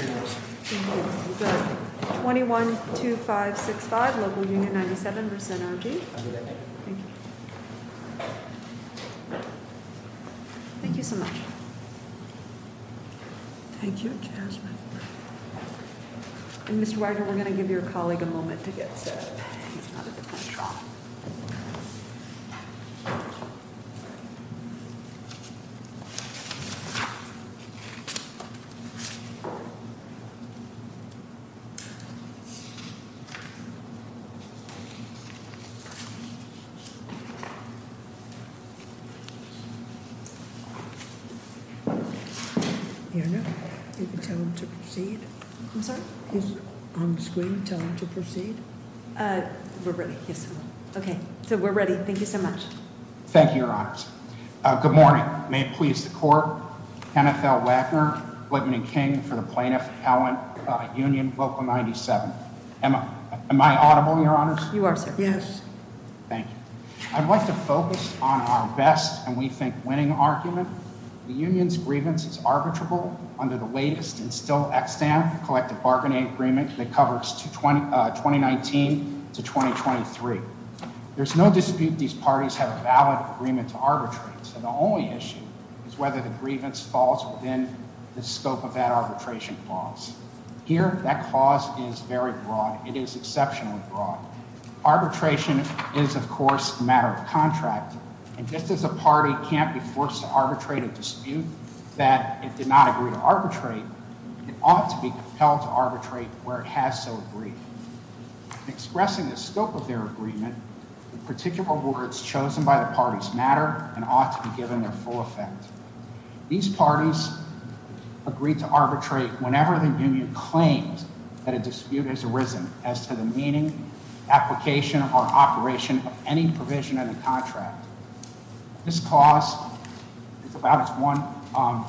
21 to 565 local Union 97% of the Thank you so much. Thank you, Jasmine. Mr. We're going to give your colleague a moment to get set up. To proceed. Okay, so we're ready. Thank you so much. Thank you, Your Honor. Good morning. May it please the court. NFL Wagner Whitman and King for the plaintiff. Helen Union local 97. Am I audible, Your Honor? You are. Yes. Thank you. I'd like to focus on our best and we think winning argument. The union's grievance is arbitrable under the latest and still Extend collective bargaining agreement that covers to 20 2019 to 2023. There's no dispute. These parties have a valid agreement to arbitrate. The only issue is whether the grievance falls within the scope of That arbitration clause here. That cause is very broad. It is exceptionally broad. Arbitration is, of course, matter of contract. And just as a party can't be forced to arbitrate a dispute that it did Not agree to arbitrate. It ought to be compelled to arbitrate where it has to agree. Expressing the scope of their agreement. Particular words chosen by the parties matter and ought to be given Their full effect. These parties. Agreed to arbitrate whenever the union claims that a dispute has Arisen as to the meaning. Application or operation of any provision of the contract. This cause. It's about one.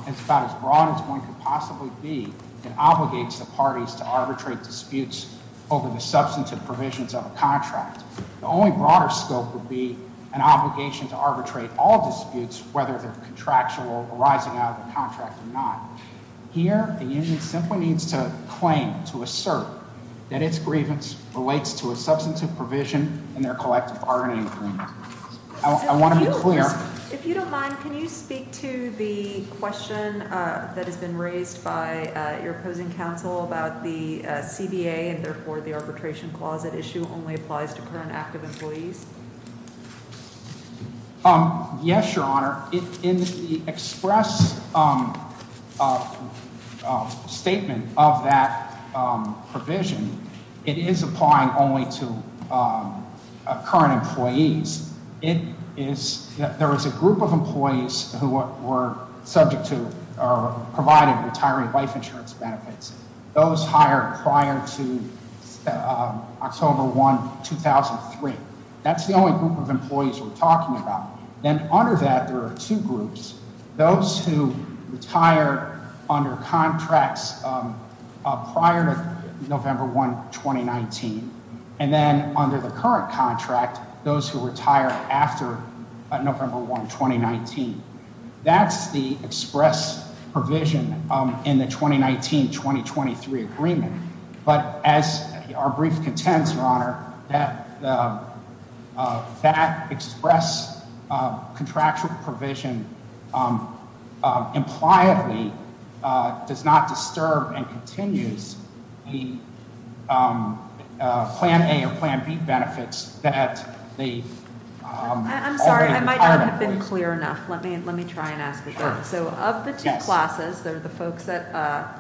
It's about as broad as one could possibly be. It obligates the parties to arbitrate disputes over the substantive Provisions of a contract. The only broader scope would be an obligation to arbitrate all disputes, whether they're contractual rising out of the contract or not. Here, the union simply needs to claim to assert that its grievance Relates to a substantive provision in their collective bargaining. I want to be clear. If you don't mind, can you speak to the question that has been raised By your opposing counsel about the CBA and therefore the arbitration Clause that issue only applies to current active employees? Yes, Your Honor. In the express Statement of that provision. It is applying only to Current employees. It is there is a group of employees who were subject to Provided retiring life insurance benefits. Those hired prior to October 1, 2003. That's the only group of employees we're talking about. Then under that, there are two groups. Those who retire under contracts. Prior to November 1, 2019. And then under the current contract, those who retire after November 1, 2019. That's the express provision in the 2019 2023 agreement. But as our brief contends, Your Honor, that Express contractual provision Impliedly does not disturb and continues Plan A or Plan B benefits that I'm sorry. I might not have been clear enough. Let me let me try and ask So of the two classes, they're the folks that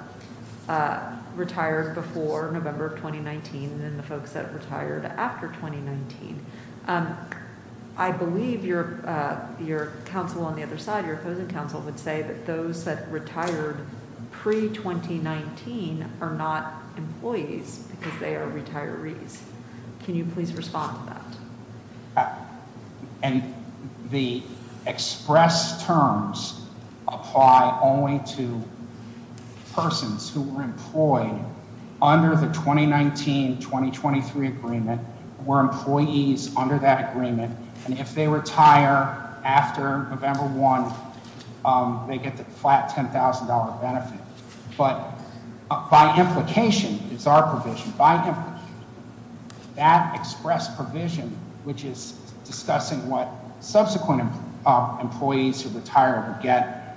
Retired before November 2019 and the folks that retired After 2019. I believe you're Your counsel on the other side. Your opposing counsel would say that those That retired pre 2019 are not Employees because they are retirees. Can you please Respond to that? And the Express terms apply only to Persons who were employed under the 2019 2023 agreement were employees Under that agreement. And if they retire after November One, they get the flat $10,000 benefit. But by implication is our provision by That express provision, which is Discussing what subsequent employees who retire Get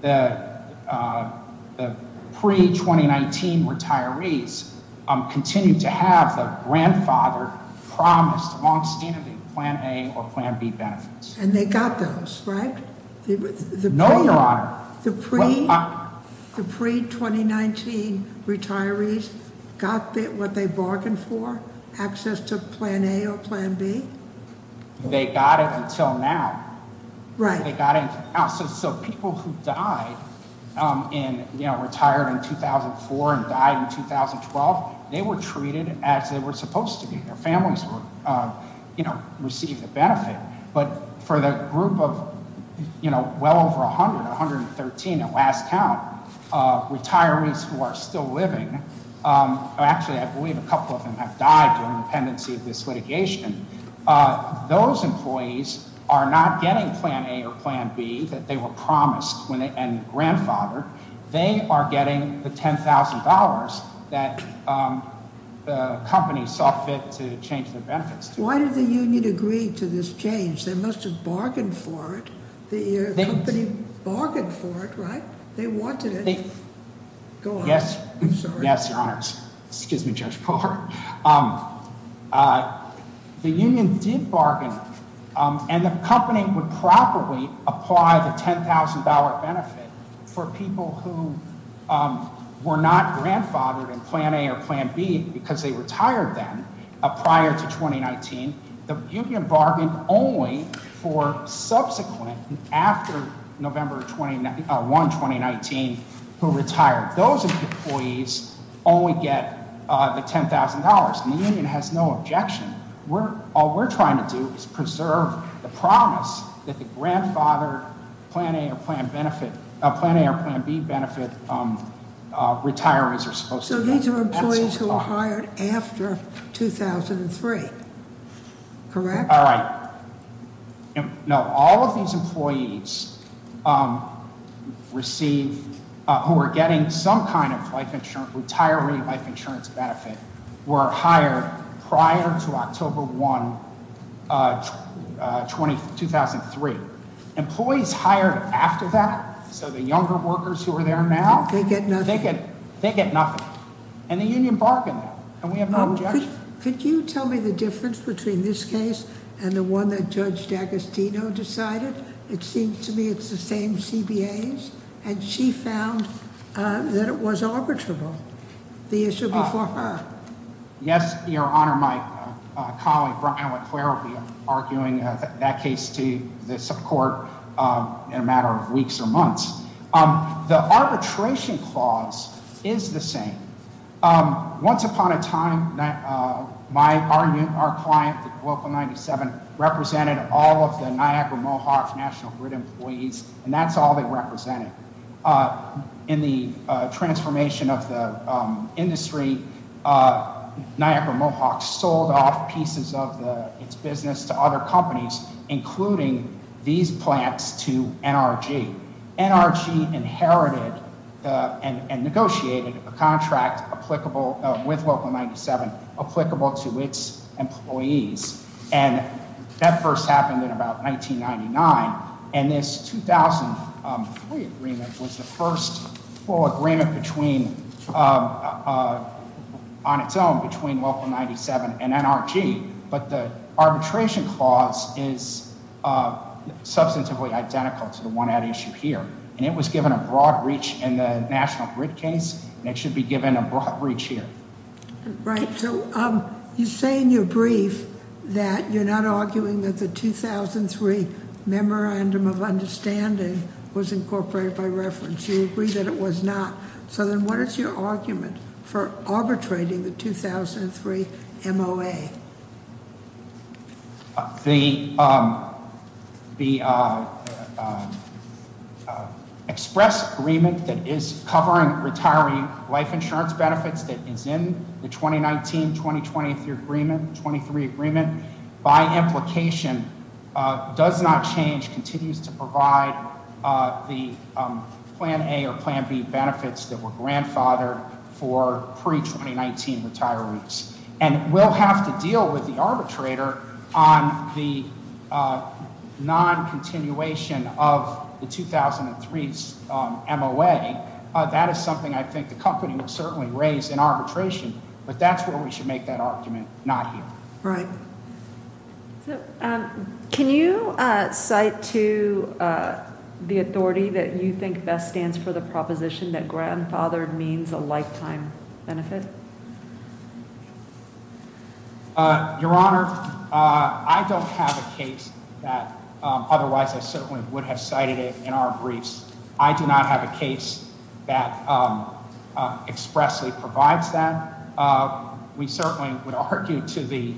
the Pre 2019 retirees continue to have The grandfather promised long standing Plan A or Plan B benefits. And they got those, right? No, your honor. The pre 2019 retirees got what they bargained For, access to Plan A or Plan B? They got it until now. So people who died and retired in 2004 and died in 2012, they were treated as they were supposed to be. Their families received the benefit. But for the group of, you know, well over 100, 113 At last count, retirees who are still living Actually, I believe a couple of them have died during the pendency Of this litigation. Those employees are not Getting Plan A or Plan B that they were promised and grandfathered. They are getting the $10,000 that The company saw fit to change the benefits. Why did the union agree to this change? They must have bargained for it. The company bargained for it, right? They wanted it. Go on. I'm sorry. Yes, your honor. Excuse me, Judge Poehler. The union did Bargain and the company would probably apply The $10,000 benefit for people who Were not grandfathered in Plan A or Plan B because they retired Prior to 2019. The union bargained Only for subsequent, after November 1, 2019, who retired. Those employees Only get the $10,000. The union has no Objection. All we're trying to do is preserve the promise That the grandfathered Plan A or Plan B benefit Retirees are supposed to get. So these are employees who were hired after 2003. Correct? All right. All of these employees Who are getting some kind of retiree life insurance Benefit were hired prior to October 1, 2003. Employees Hired after that, so the younger workers who are there now, They get nothing. They get nothing. And the union bargained And we have no objection. Could you tell me the difference between this case And the one that Judge D'Agostino decided? It seems to me It's the same CBAs, and she found that it was Arbitrable, the issue before her. Yes, your Honor. My colleague, Brian LeClerc, will be arguing That case to the court in a matter of weeks or months. The arbitration clause is the same. Once upon a time, our Client, Local 97, represented all of the National Grid employees, and that's all they represented. In the transformation of the industry, Niagara Mohawk sold off pieces of Its business to other companies, including these plants To NRG. NRG inherited And negotiated a contract with Local 97 Applicable to its employees, and That first happened in about 1999, and this 2003 agreement was the first full agreement between On its own between Local 97 And NRG, but the arbitration clause is Substantively identical to the one at issue here, and it was given a broad reach In the National Grid case, and it should be given a broad reach here. Right. So you say in your brief that you're Not arguing that the 2003 Memorandum of Understanding was incorporated by reference. You agree that it was not. So then what is your argument for arbitrating the 2003 MOA? The Express Agreement that is covering retiring life insurance benefits that Is in the 2019-2023 agreement By implication does not change, continues To provide the Plan A or Plan B Benefits that were grandfathered for pre-2019 Retirees, and we'll have to deal with the arbitrator On the noncontinuation of The 2003 MOA. That is something I think the company will certainly raise in arbitration, but that's where we should make that Argument not here. Right. Can you cite to the authority That you think best stands for the proposition that grandfathered means a lifetime Benefit? Your Honor, I don't have a case that Otherwise I certainly would have cited it in our briefs. I do not have a case That expressly provides that. We certainly would argue to the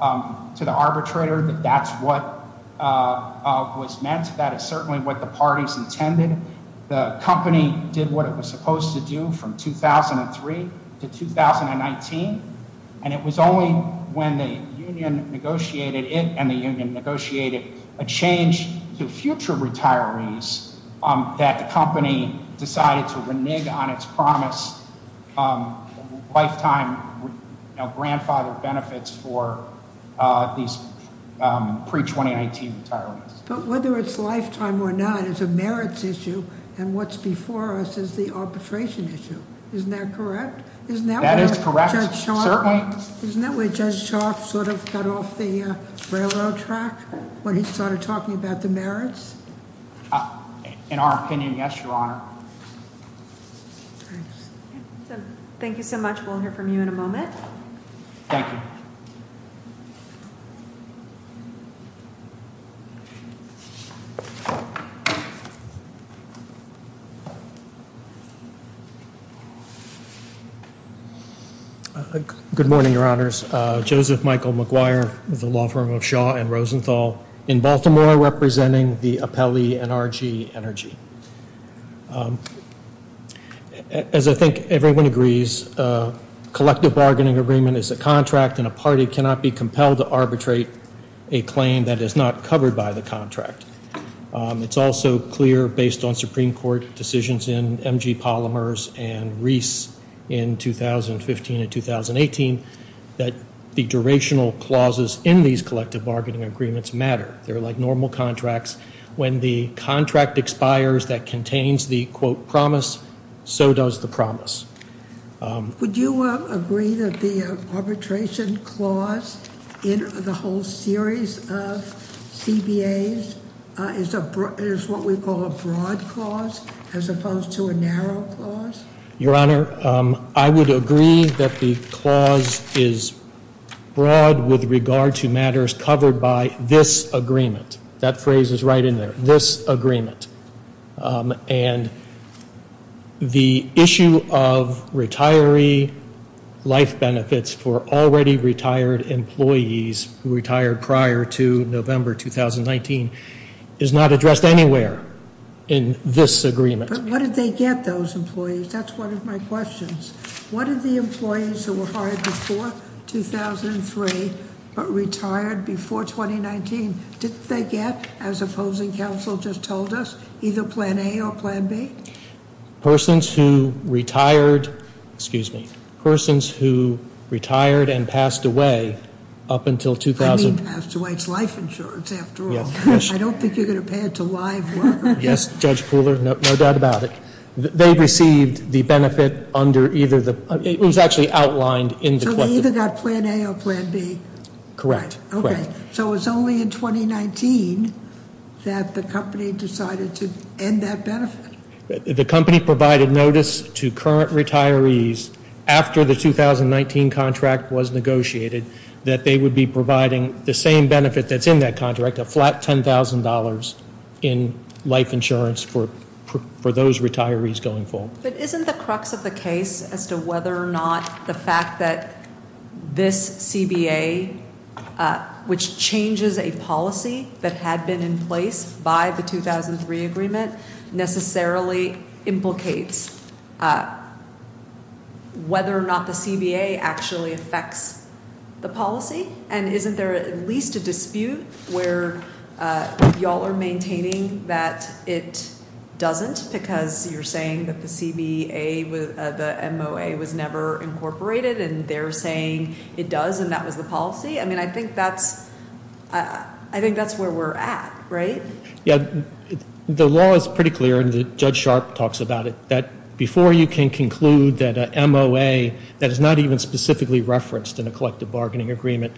Arbitrator that that's what was meant. That is certainly what the parties intended. The company did what it was Supposed to do in 2003-2019, and it was only When the union negotiated it and the union negotiated A change to future retirees that the company Decided to renege on its promise Lifetime grandfathered benefits for These pre-2019 retirees. But whether it's lifetime or not, it's a merits issue, and what's before us Is the arbitration issue. Isn't that correct? Isn't that where judge sharp sort of cut off the Railroad track when he started talking about the merits? In our opinion, yes, your Honor. Thank you so much. We'll hear from you in a moment. Thank you. Good morning, your Honors. Joseph Michael McGuire with the law firm of Shaw and Rosenthal In Baltimore representing the appellee NRG Energy. As I think everyone agrees, Collective bargaining agreement is a contract and a party cannot be compelled To arbitrate a claim that is not covered by the contract. It's also clear based on Supreme Court decisions in MG Polymers and Reese in 2015 and 2018 that the durational clauses in these Collective bargaining agreements matter. They're like normal contracts. When the Contract expires that contains the quote promise, so Does the promise. Would you agree that the Arbitration clause in the whole series of CBAs is what we call a broad Clause as opposed to a narrow clause? Your Honor, I would agree that the clause is broad With regard to matters covered by this agreement. That Phrase is right in there. This agreement and The issue of retiree Life benefits for already retired employees Retired prior to November 2019 is not Addressed anywhere in this agreement. But what did they get those Employees? That's one of my questions. What are the employees who were hired Before 2003 but retired before 2019? Didn't they get, as opposing counsel just told us, Either plan A or plan B? Persons who retired Excuse me. Persons who retired and Passed away up until 2000. I mean passed away. It's life insurance After all. I don't think you're going to pay it to live workers. Yes, Judge Pooler, No doubt about it. They received the benefit under either It was actually outlined in the question. So they either got plan A or plan B? Correct. Okay. So it was only in 2019 That the company decided to end that benefit? The company provided notice to current retirees after the 2019 contract was negotiated that they would be providing The same benefit that's in that contract, a flat $10,000 In life insurance for those retirees going forward. But isn't the crux of the case as to whether or not the fact that This CBA, which changes A policy that had been in place by the 2003 agreement Necessarily implicates Whether or not the CBA actually affects The policy? And isn't there at least a dispute where Y'all are maintaining that it Doesn't because you're saying that the CBA, the MOA Was never incorporated and they're saying it does and that was the policy? I mean, I think that's where we're at. Right? The law is pretty clear and Judge Sharp Talks about it that before you can conclude that MOA That is not even specifically referenced in a collective bargaining agreement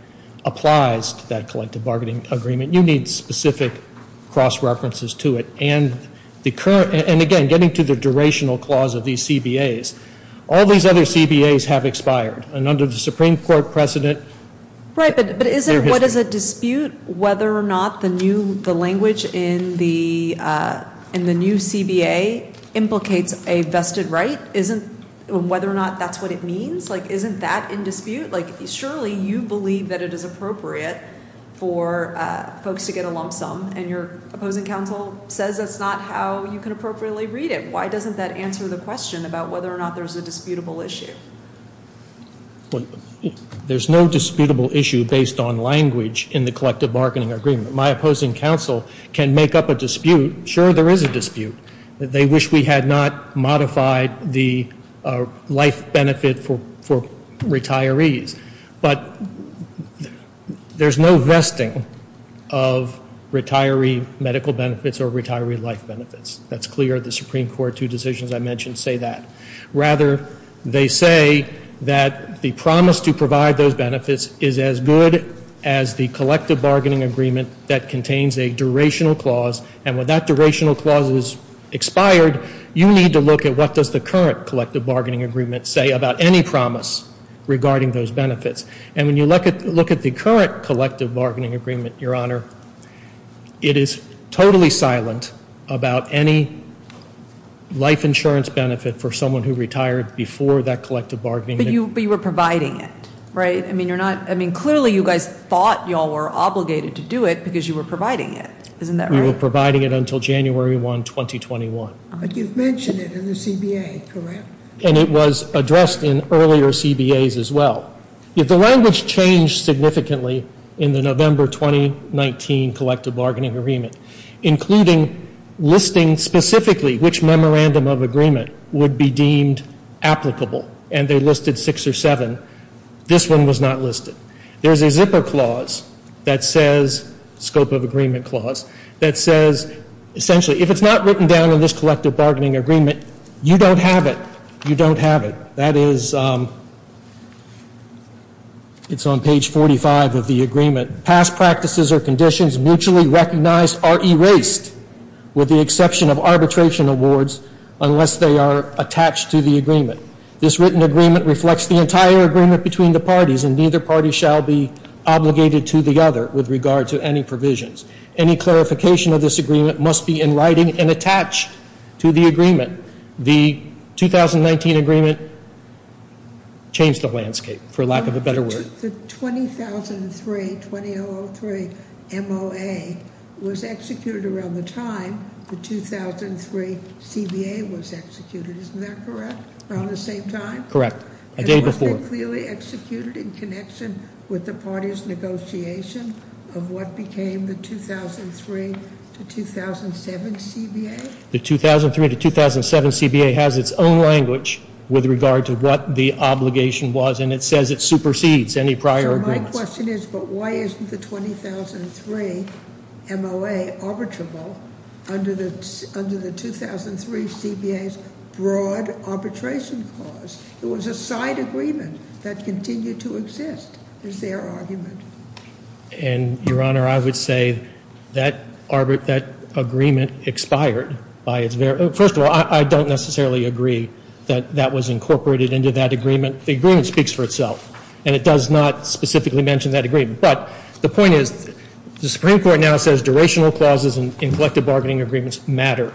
Applies to that collective bargaining agreement, you need specific Cross-references to it. And again, getting to the Durational clause of these CBAs, all these other CBAs have expired And under the Supreme Court precedent Is there a dispute whether or not the language in the New CBA implicates a vested right? Whether or not that's what it means? Isn't that in dispute? Surely you believe that it is appropriate for Folks to get a lump sum and your opposing counsel says that's not how You can appropriately read it. Why doesn't that answer the question about whether or not there's a Disputable issue? There's no Disputable issue based on language in the collective bargaining agreement. My opposing Counsel can make up a dispute. Sure, there is a dispute. They wish We had not modified the life benefit For retirees. But There's no vesting of retiree medical Benefits or retiree life benefits. That's clear. The Supreme Court, two decisions I mentioned Say that. Rather, they say that the Promise to provide those benefits is as good as the collective Bargaining agreement that contains a durational clause. And when that Durational clause is expired, you need to look at what does the current Collective bargaining agreement say about any promise regarding those benefits. And when you look at the current collective bargaining agreement, Your Honor, It is totally silent about any Life insurance benefit for someone who retired before That collective bargaining agreement. But you were providing it, right? I mean, you're not Clearly you guys thought you all were obligated to do it because you were providing it. We were providing it until January 1, 2021. But you've mentioned It in the CBA, correct? And it was addressed in earlier CBAs as well. The language changed significantly In the November 2019 collective bargaining agreement, including Listing specifically which memorandum of agreement Would be deemed applicable. And they listed six or seven. This one was not listed. There's a zipper clause that says Scope of agreement clause that says essentially if it's not written Down in this collective bargaining agreement, you don't have it. You don't have It. That is On page 45 of the agreement. Past practices or conditions mutually Recognized are erased with the exception of arbitration awards Unless they are attached to the agreement. This written agreement Reflects the entire agreement between the parties and neither party shall be Granted any provisions. Any clarification of this agreement must be in writing And attached to the agreement. The 2019 Agreement changed the landscape, for lack of a better word. The 20003 MOA Was executed around the time the 2003 CBA was executed. Isn't that correct? Around the same time? Correct. A day before. And was it clearly executed in connection with the Decision that became the 2003 to 2007 CBA? The 2003 to 2007 CBA has its own language With regard to what the obligation was, and it says it supersedes Any prior agreements. So my question is, but why isn't the 2003 MOA arbitrable under the 2003 CBA's broad arbitration clause? It was a side agreement that continued to exist, is their argument. And, Your Honor, I would say that Agreement expired. First of all, I don't necessarily Agree that that was incorporated into that agreement. The agreement speaks For itself, and it does not specifically mention that agreement. But the point Is the Supreme Court now says durational clauses in collective bargaining Agreements matter.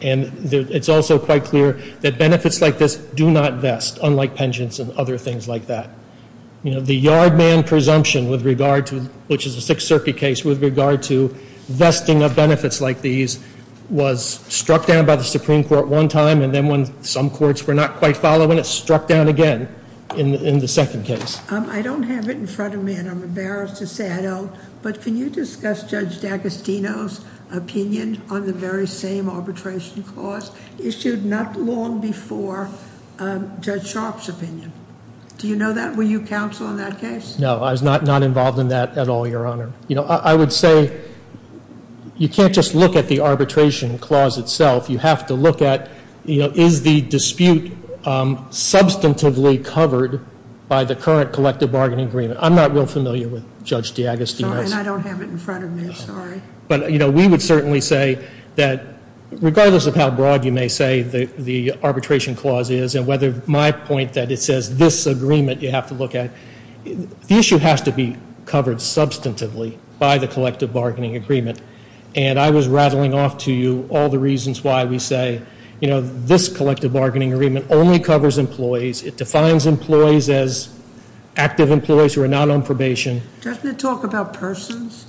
And it's also quite clear That benefits like this do not vest, unlike penchants and other things like that. You know, the yard man presumption with regard to, which is a Sixth Circuit Case, with regard to vesting of benefits like these Was struck down by the Supreme Court one time, and then when some courts were not Quite following, it struck down again in the second case. I don't have it in front of me, and I'm embarrassed to say I don't, but can you discuss Judge D'Agostino's opinion on the very same arbitration Clause issued not long before Judge Sharpe's Opinion? Do you know that? Were you counsel in that case? No, I was not involved In that at all, Your Honor. You know, I would say you can't Just look at the arbitration clause itself. You have to look at Is the dispute substantively covered By the current collective bargaining agreement? I'm not real familiar with Judge D'Agostino's And I don't have it in front of me, sorry. But, you know, we would certainly say That regardless of how broad you may say the arbitration Clause is, and whether my point that it says this agreement you have to look at The issue has to be covered substantively by the Collective bargaining agreement, and I was rattling off to you all the reasons Why we say, you know, this collective bargaining agreement only covers Employees. It defines employees as active employees who are Not on probation. Does it talk about persons?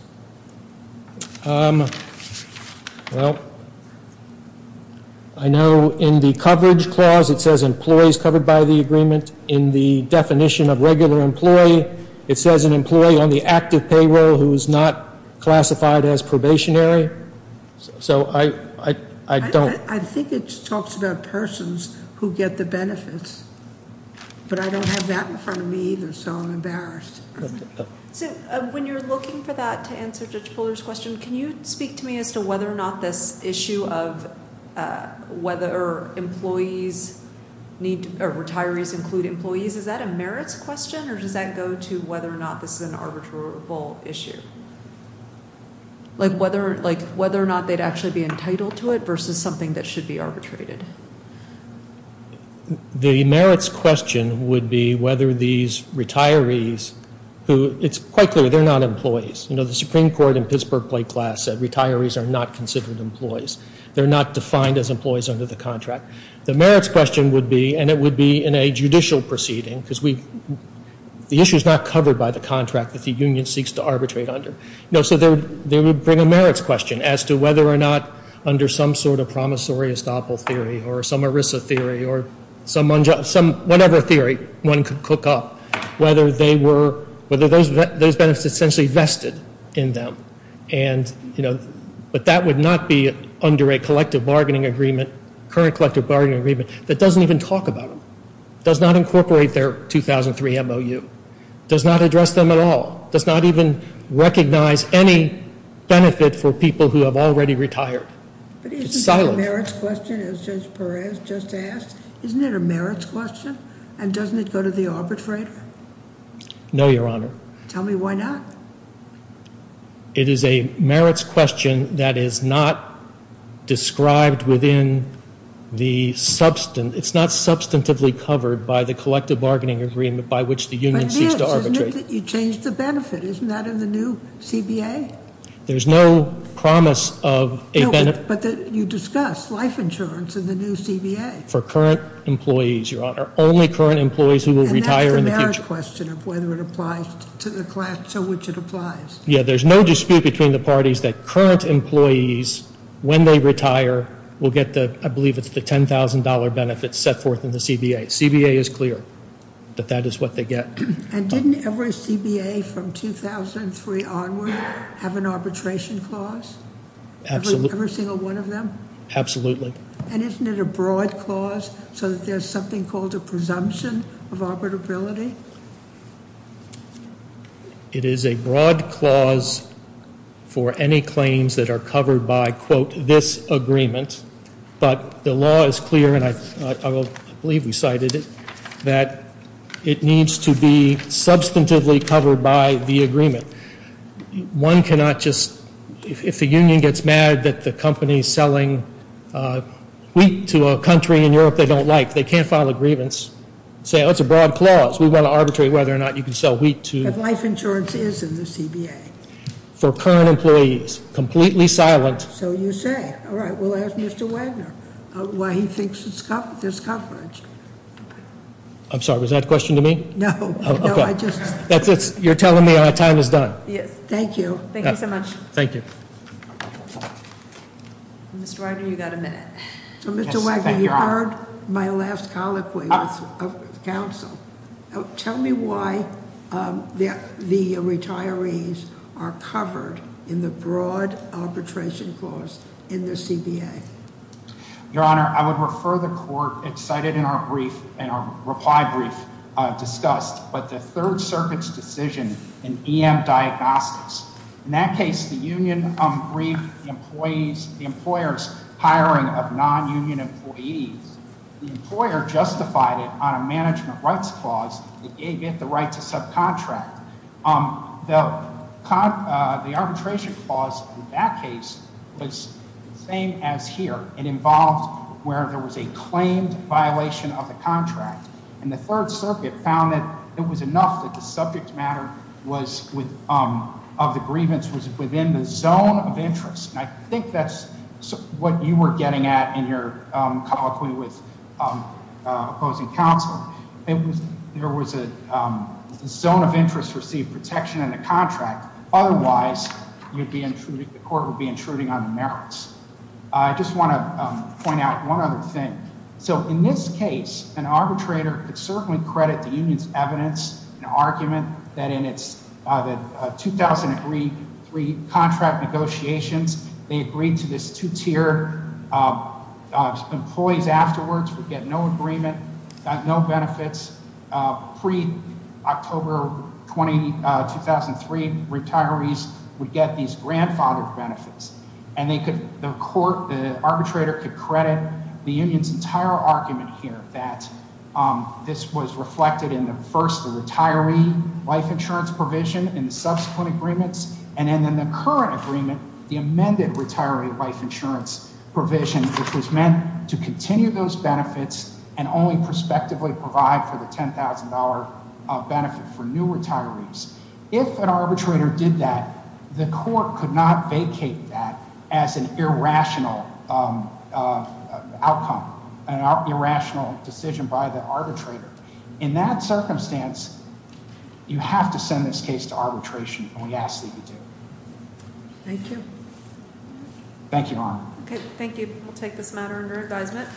Well I know in the coverage clause it says Employees covered by the agreement. In the definition of regular employee It says an employee on the active payroll who is not Classified as probationary. So I don't I think it talks about persons who get the benefits But I don't have that in front of me either, so I'm embarrassed So when you're looking for that to answer Judge Fuller's question, can you Speak to me as to whether or not this issue of Whether retirees include employees Is that a merits question or does that go to whether or not this is an arbitrable Issue? Like whether or not They'd actually be entitled to it versus something that should be arbitrated The merits question would be whether these Retirees, it's quite clear they're not employees You know the Supreme Court in Pittsburgh plate class said retirees are not considered employees They're not defined as employees under the contract. The merits question would be And it would be in a judicial proceeding because The issue is not covered by the contract that the union seeks to arbitrate under So they would bring a merits question as to whether or not under some sort of Promissory estoppel theory or some erisa theory or Whatever theory one could cook up whether they were Those benefits essentially vested in them But that would not be under a collective bargaining agreement That doesn't even talk about them, does not incorporate their 2003 MOU, does not address them at all, does not even Recognize any benefit for people who have already retired But isn't it a merits question as Judge Perez just asked? Isn't it a merits question and doesn't it go to the arbitrator? No, Your Honor. Tell me why not? It is a merits question that is not Described within the substance, it's not Substantively covered by the collective bargaining agreement by which the union seeks to arbitrate But it is, isn't it that you change the benefit, isn't that in the new CBA? There's no promise of a benefit. No, but you discuss Life insurance in the new CBA. For current employees, Your Honor Only current employees who will retire in the future. And that's the merits question of whether it applies To the class to which it applies. Yeah, there's no dispute between the parties that Current employees, when they retire, will get the, I believe It's the $10,000 benefit set forth in the CBA. CBA is clear That that is what they get. And didn't every CBA from 2003 onward have an arbitration clause? Every single one of them? Absolutely. And isn't it a broad Clause so that there's something called a presumption of arbitrability? It is a broad clause For any claims that are covered by, quote, this Agreement, but the law is clear, and I Believe we cited it, that it needs to be Substantively covered by the agreement. One cannot Just, if the union gets mad that the company is selling Wheat to a country in Europe they don't like, they can't file a grievance Say, oh, it's a broad clause. We want to arbitrate whether or not you can sell wheat to If life insurance is in the CBA. For current employees, Completely silent. So you say, all right, we'll ask Mr. Wagner Why he thinks there's coverage. I'm sorry, was That a question to me? No. Okay. You're telling me my time is Done. Yes. Thank you. Thank you so much. Thank you. Mr. Wagner, you've got a minute. So, Mr. Wagner, you heard my last colloquy of Counsel. Tell me why the Retirees are covered in the broad arbitration Clause in the CBA. Your honor, I would refer The court. It's cited in our brief, in our reply brief Discussed, but the third circuit's decision in EM Diagnostics. In that case, the union briefed Employers hiring of non-union employees The employer justified it on a management rights clause That gave it the right to subcontract. The arbitration clause in that case was the same As here. It involved where there was a claimed violation Of the contract. And the third circuit found that it was enough That the subject matter of the grievance was Within the zone of interest. I think that's what you were Getting at in your colloquy with opposing Counsel. There was a zone of interest Received protection in the contract. Otherwise, the Court would be intruding on the merits. I just want to point out One other thing. So, in this case, an arbitrator could certainly Credit the union's evidence and argument that in Its 2003 contract negotiations, they agreed To this two-tier. Employees afterwards Would get no agreement, no benefits Pre-October 2003 retirees Would get these grandfathered benefits. And the Court, the arbitrator could credit the union's entire argument Here that this was reflected in the first Retiree life insurance provision and subsequent agreements and Then the current agreement, the amended retiree life insurance Provision, which was meant to continue those benefits and only Prospectively provide for the $10,000 benefit for new Retirees. If an arbitrator did that, the court could not Vacate that as an irrational Outcome, an irrational decision by the Arbitrator. In that circumstance, you have to send This case to arbitration, and we ask that you do. Thank you. Thank you, Your Honor. Thank you. We'll take this matter under advisement.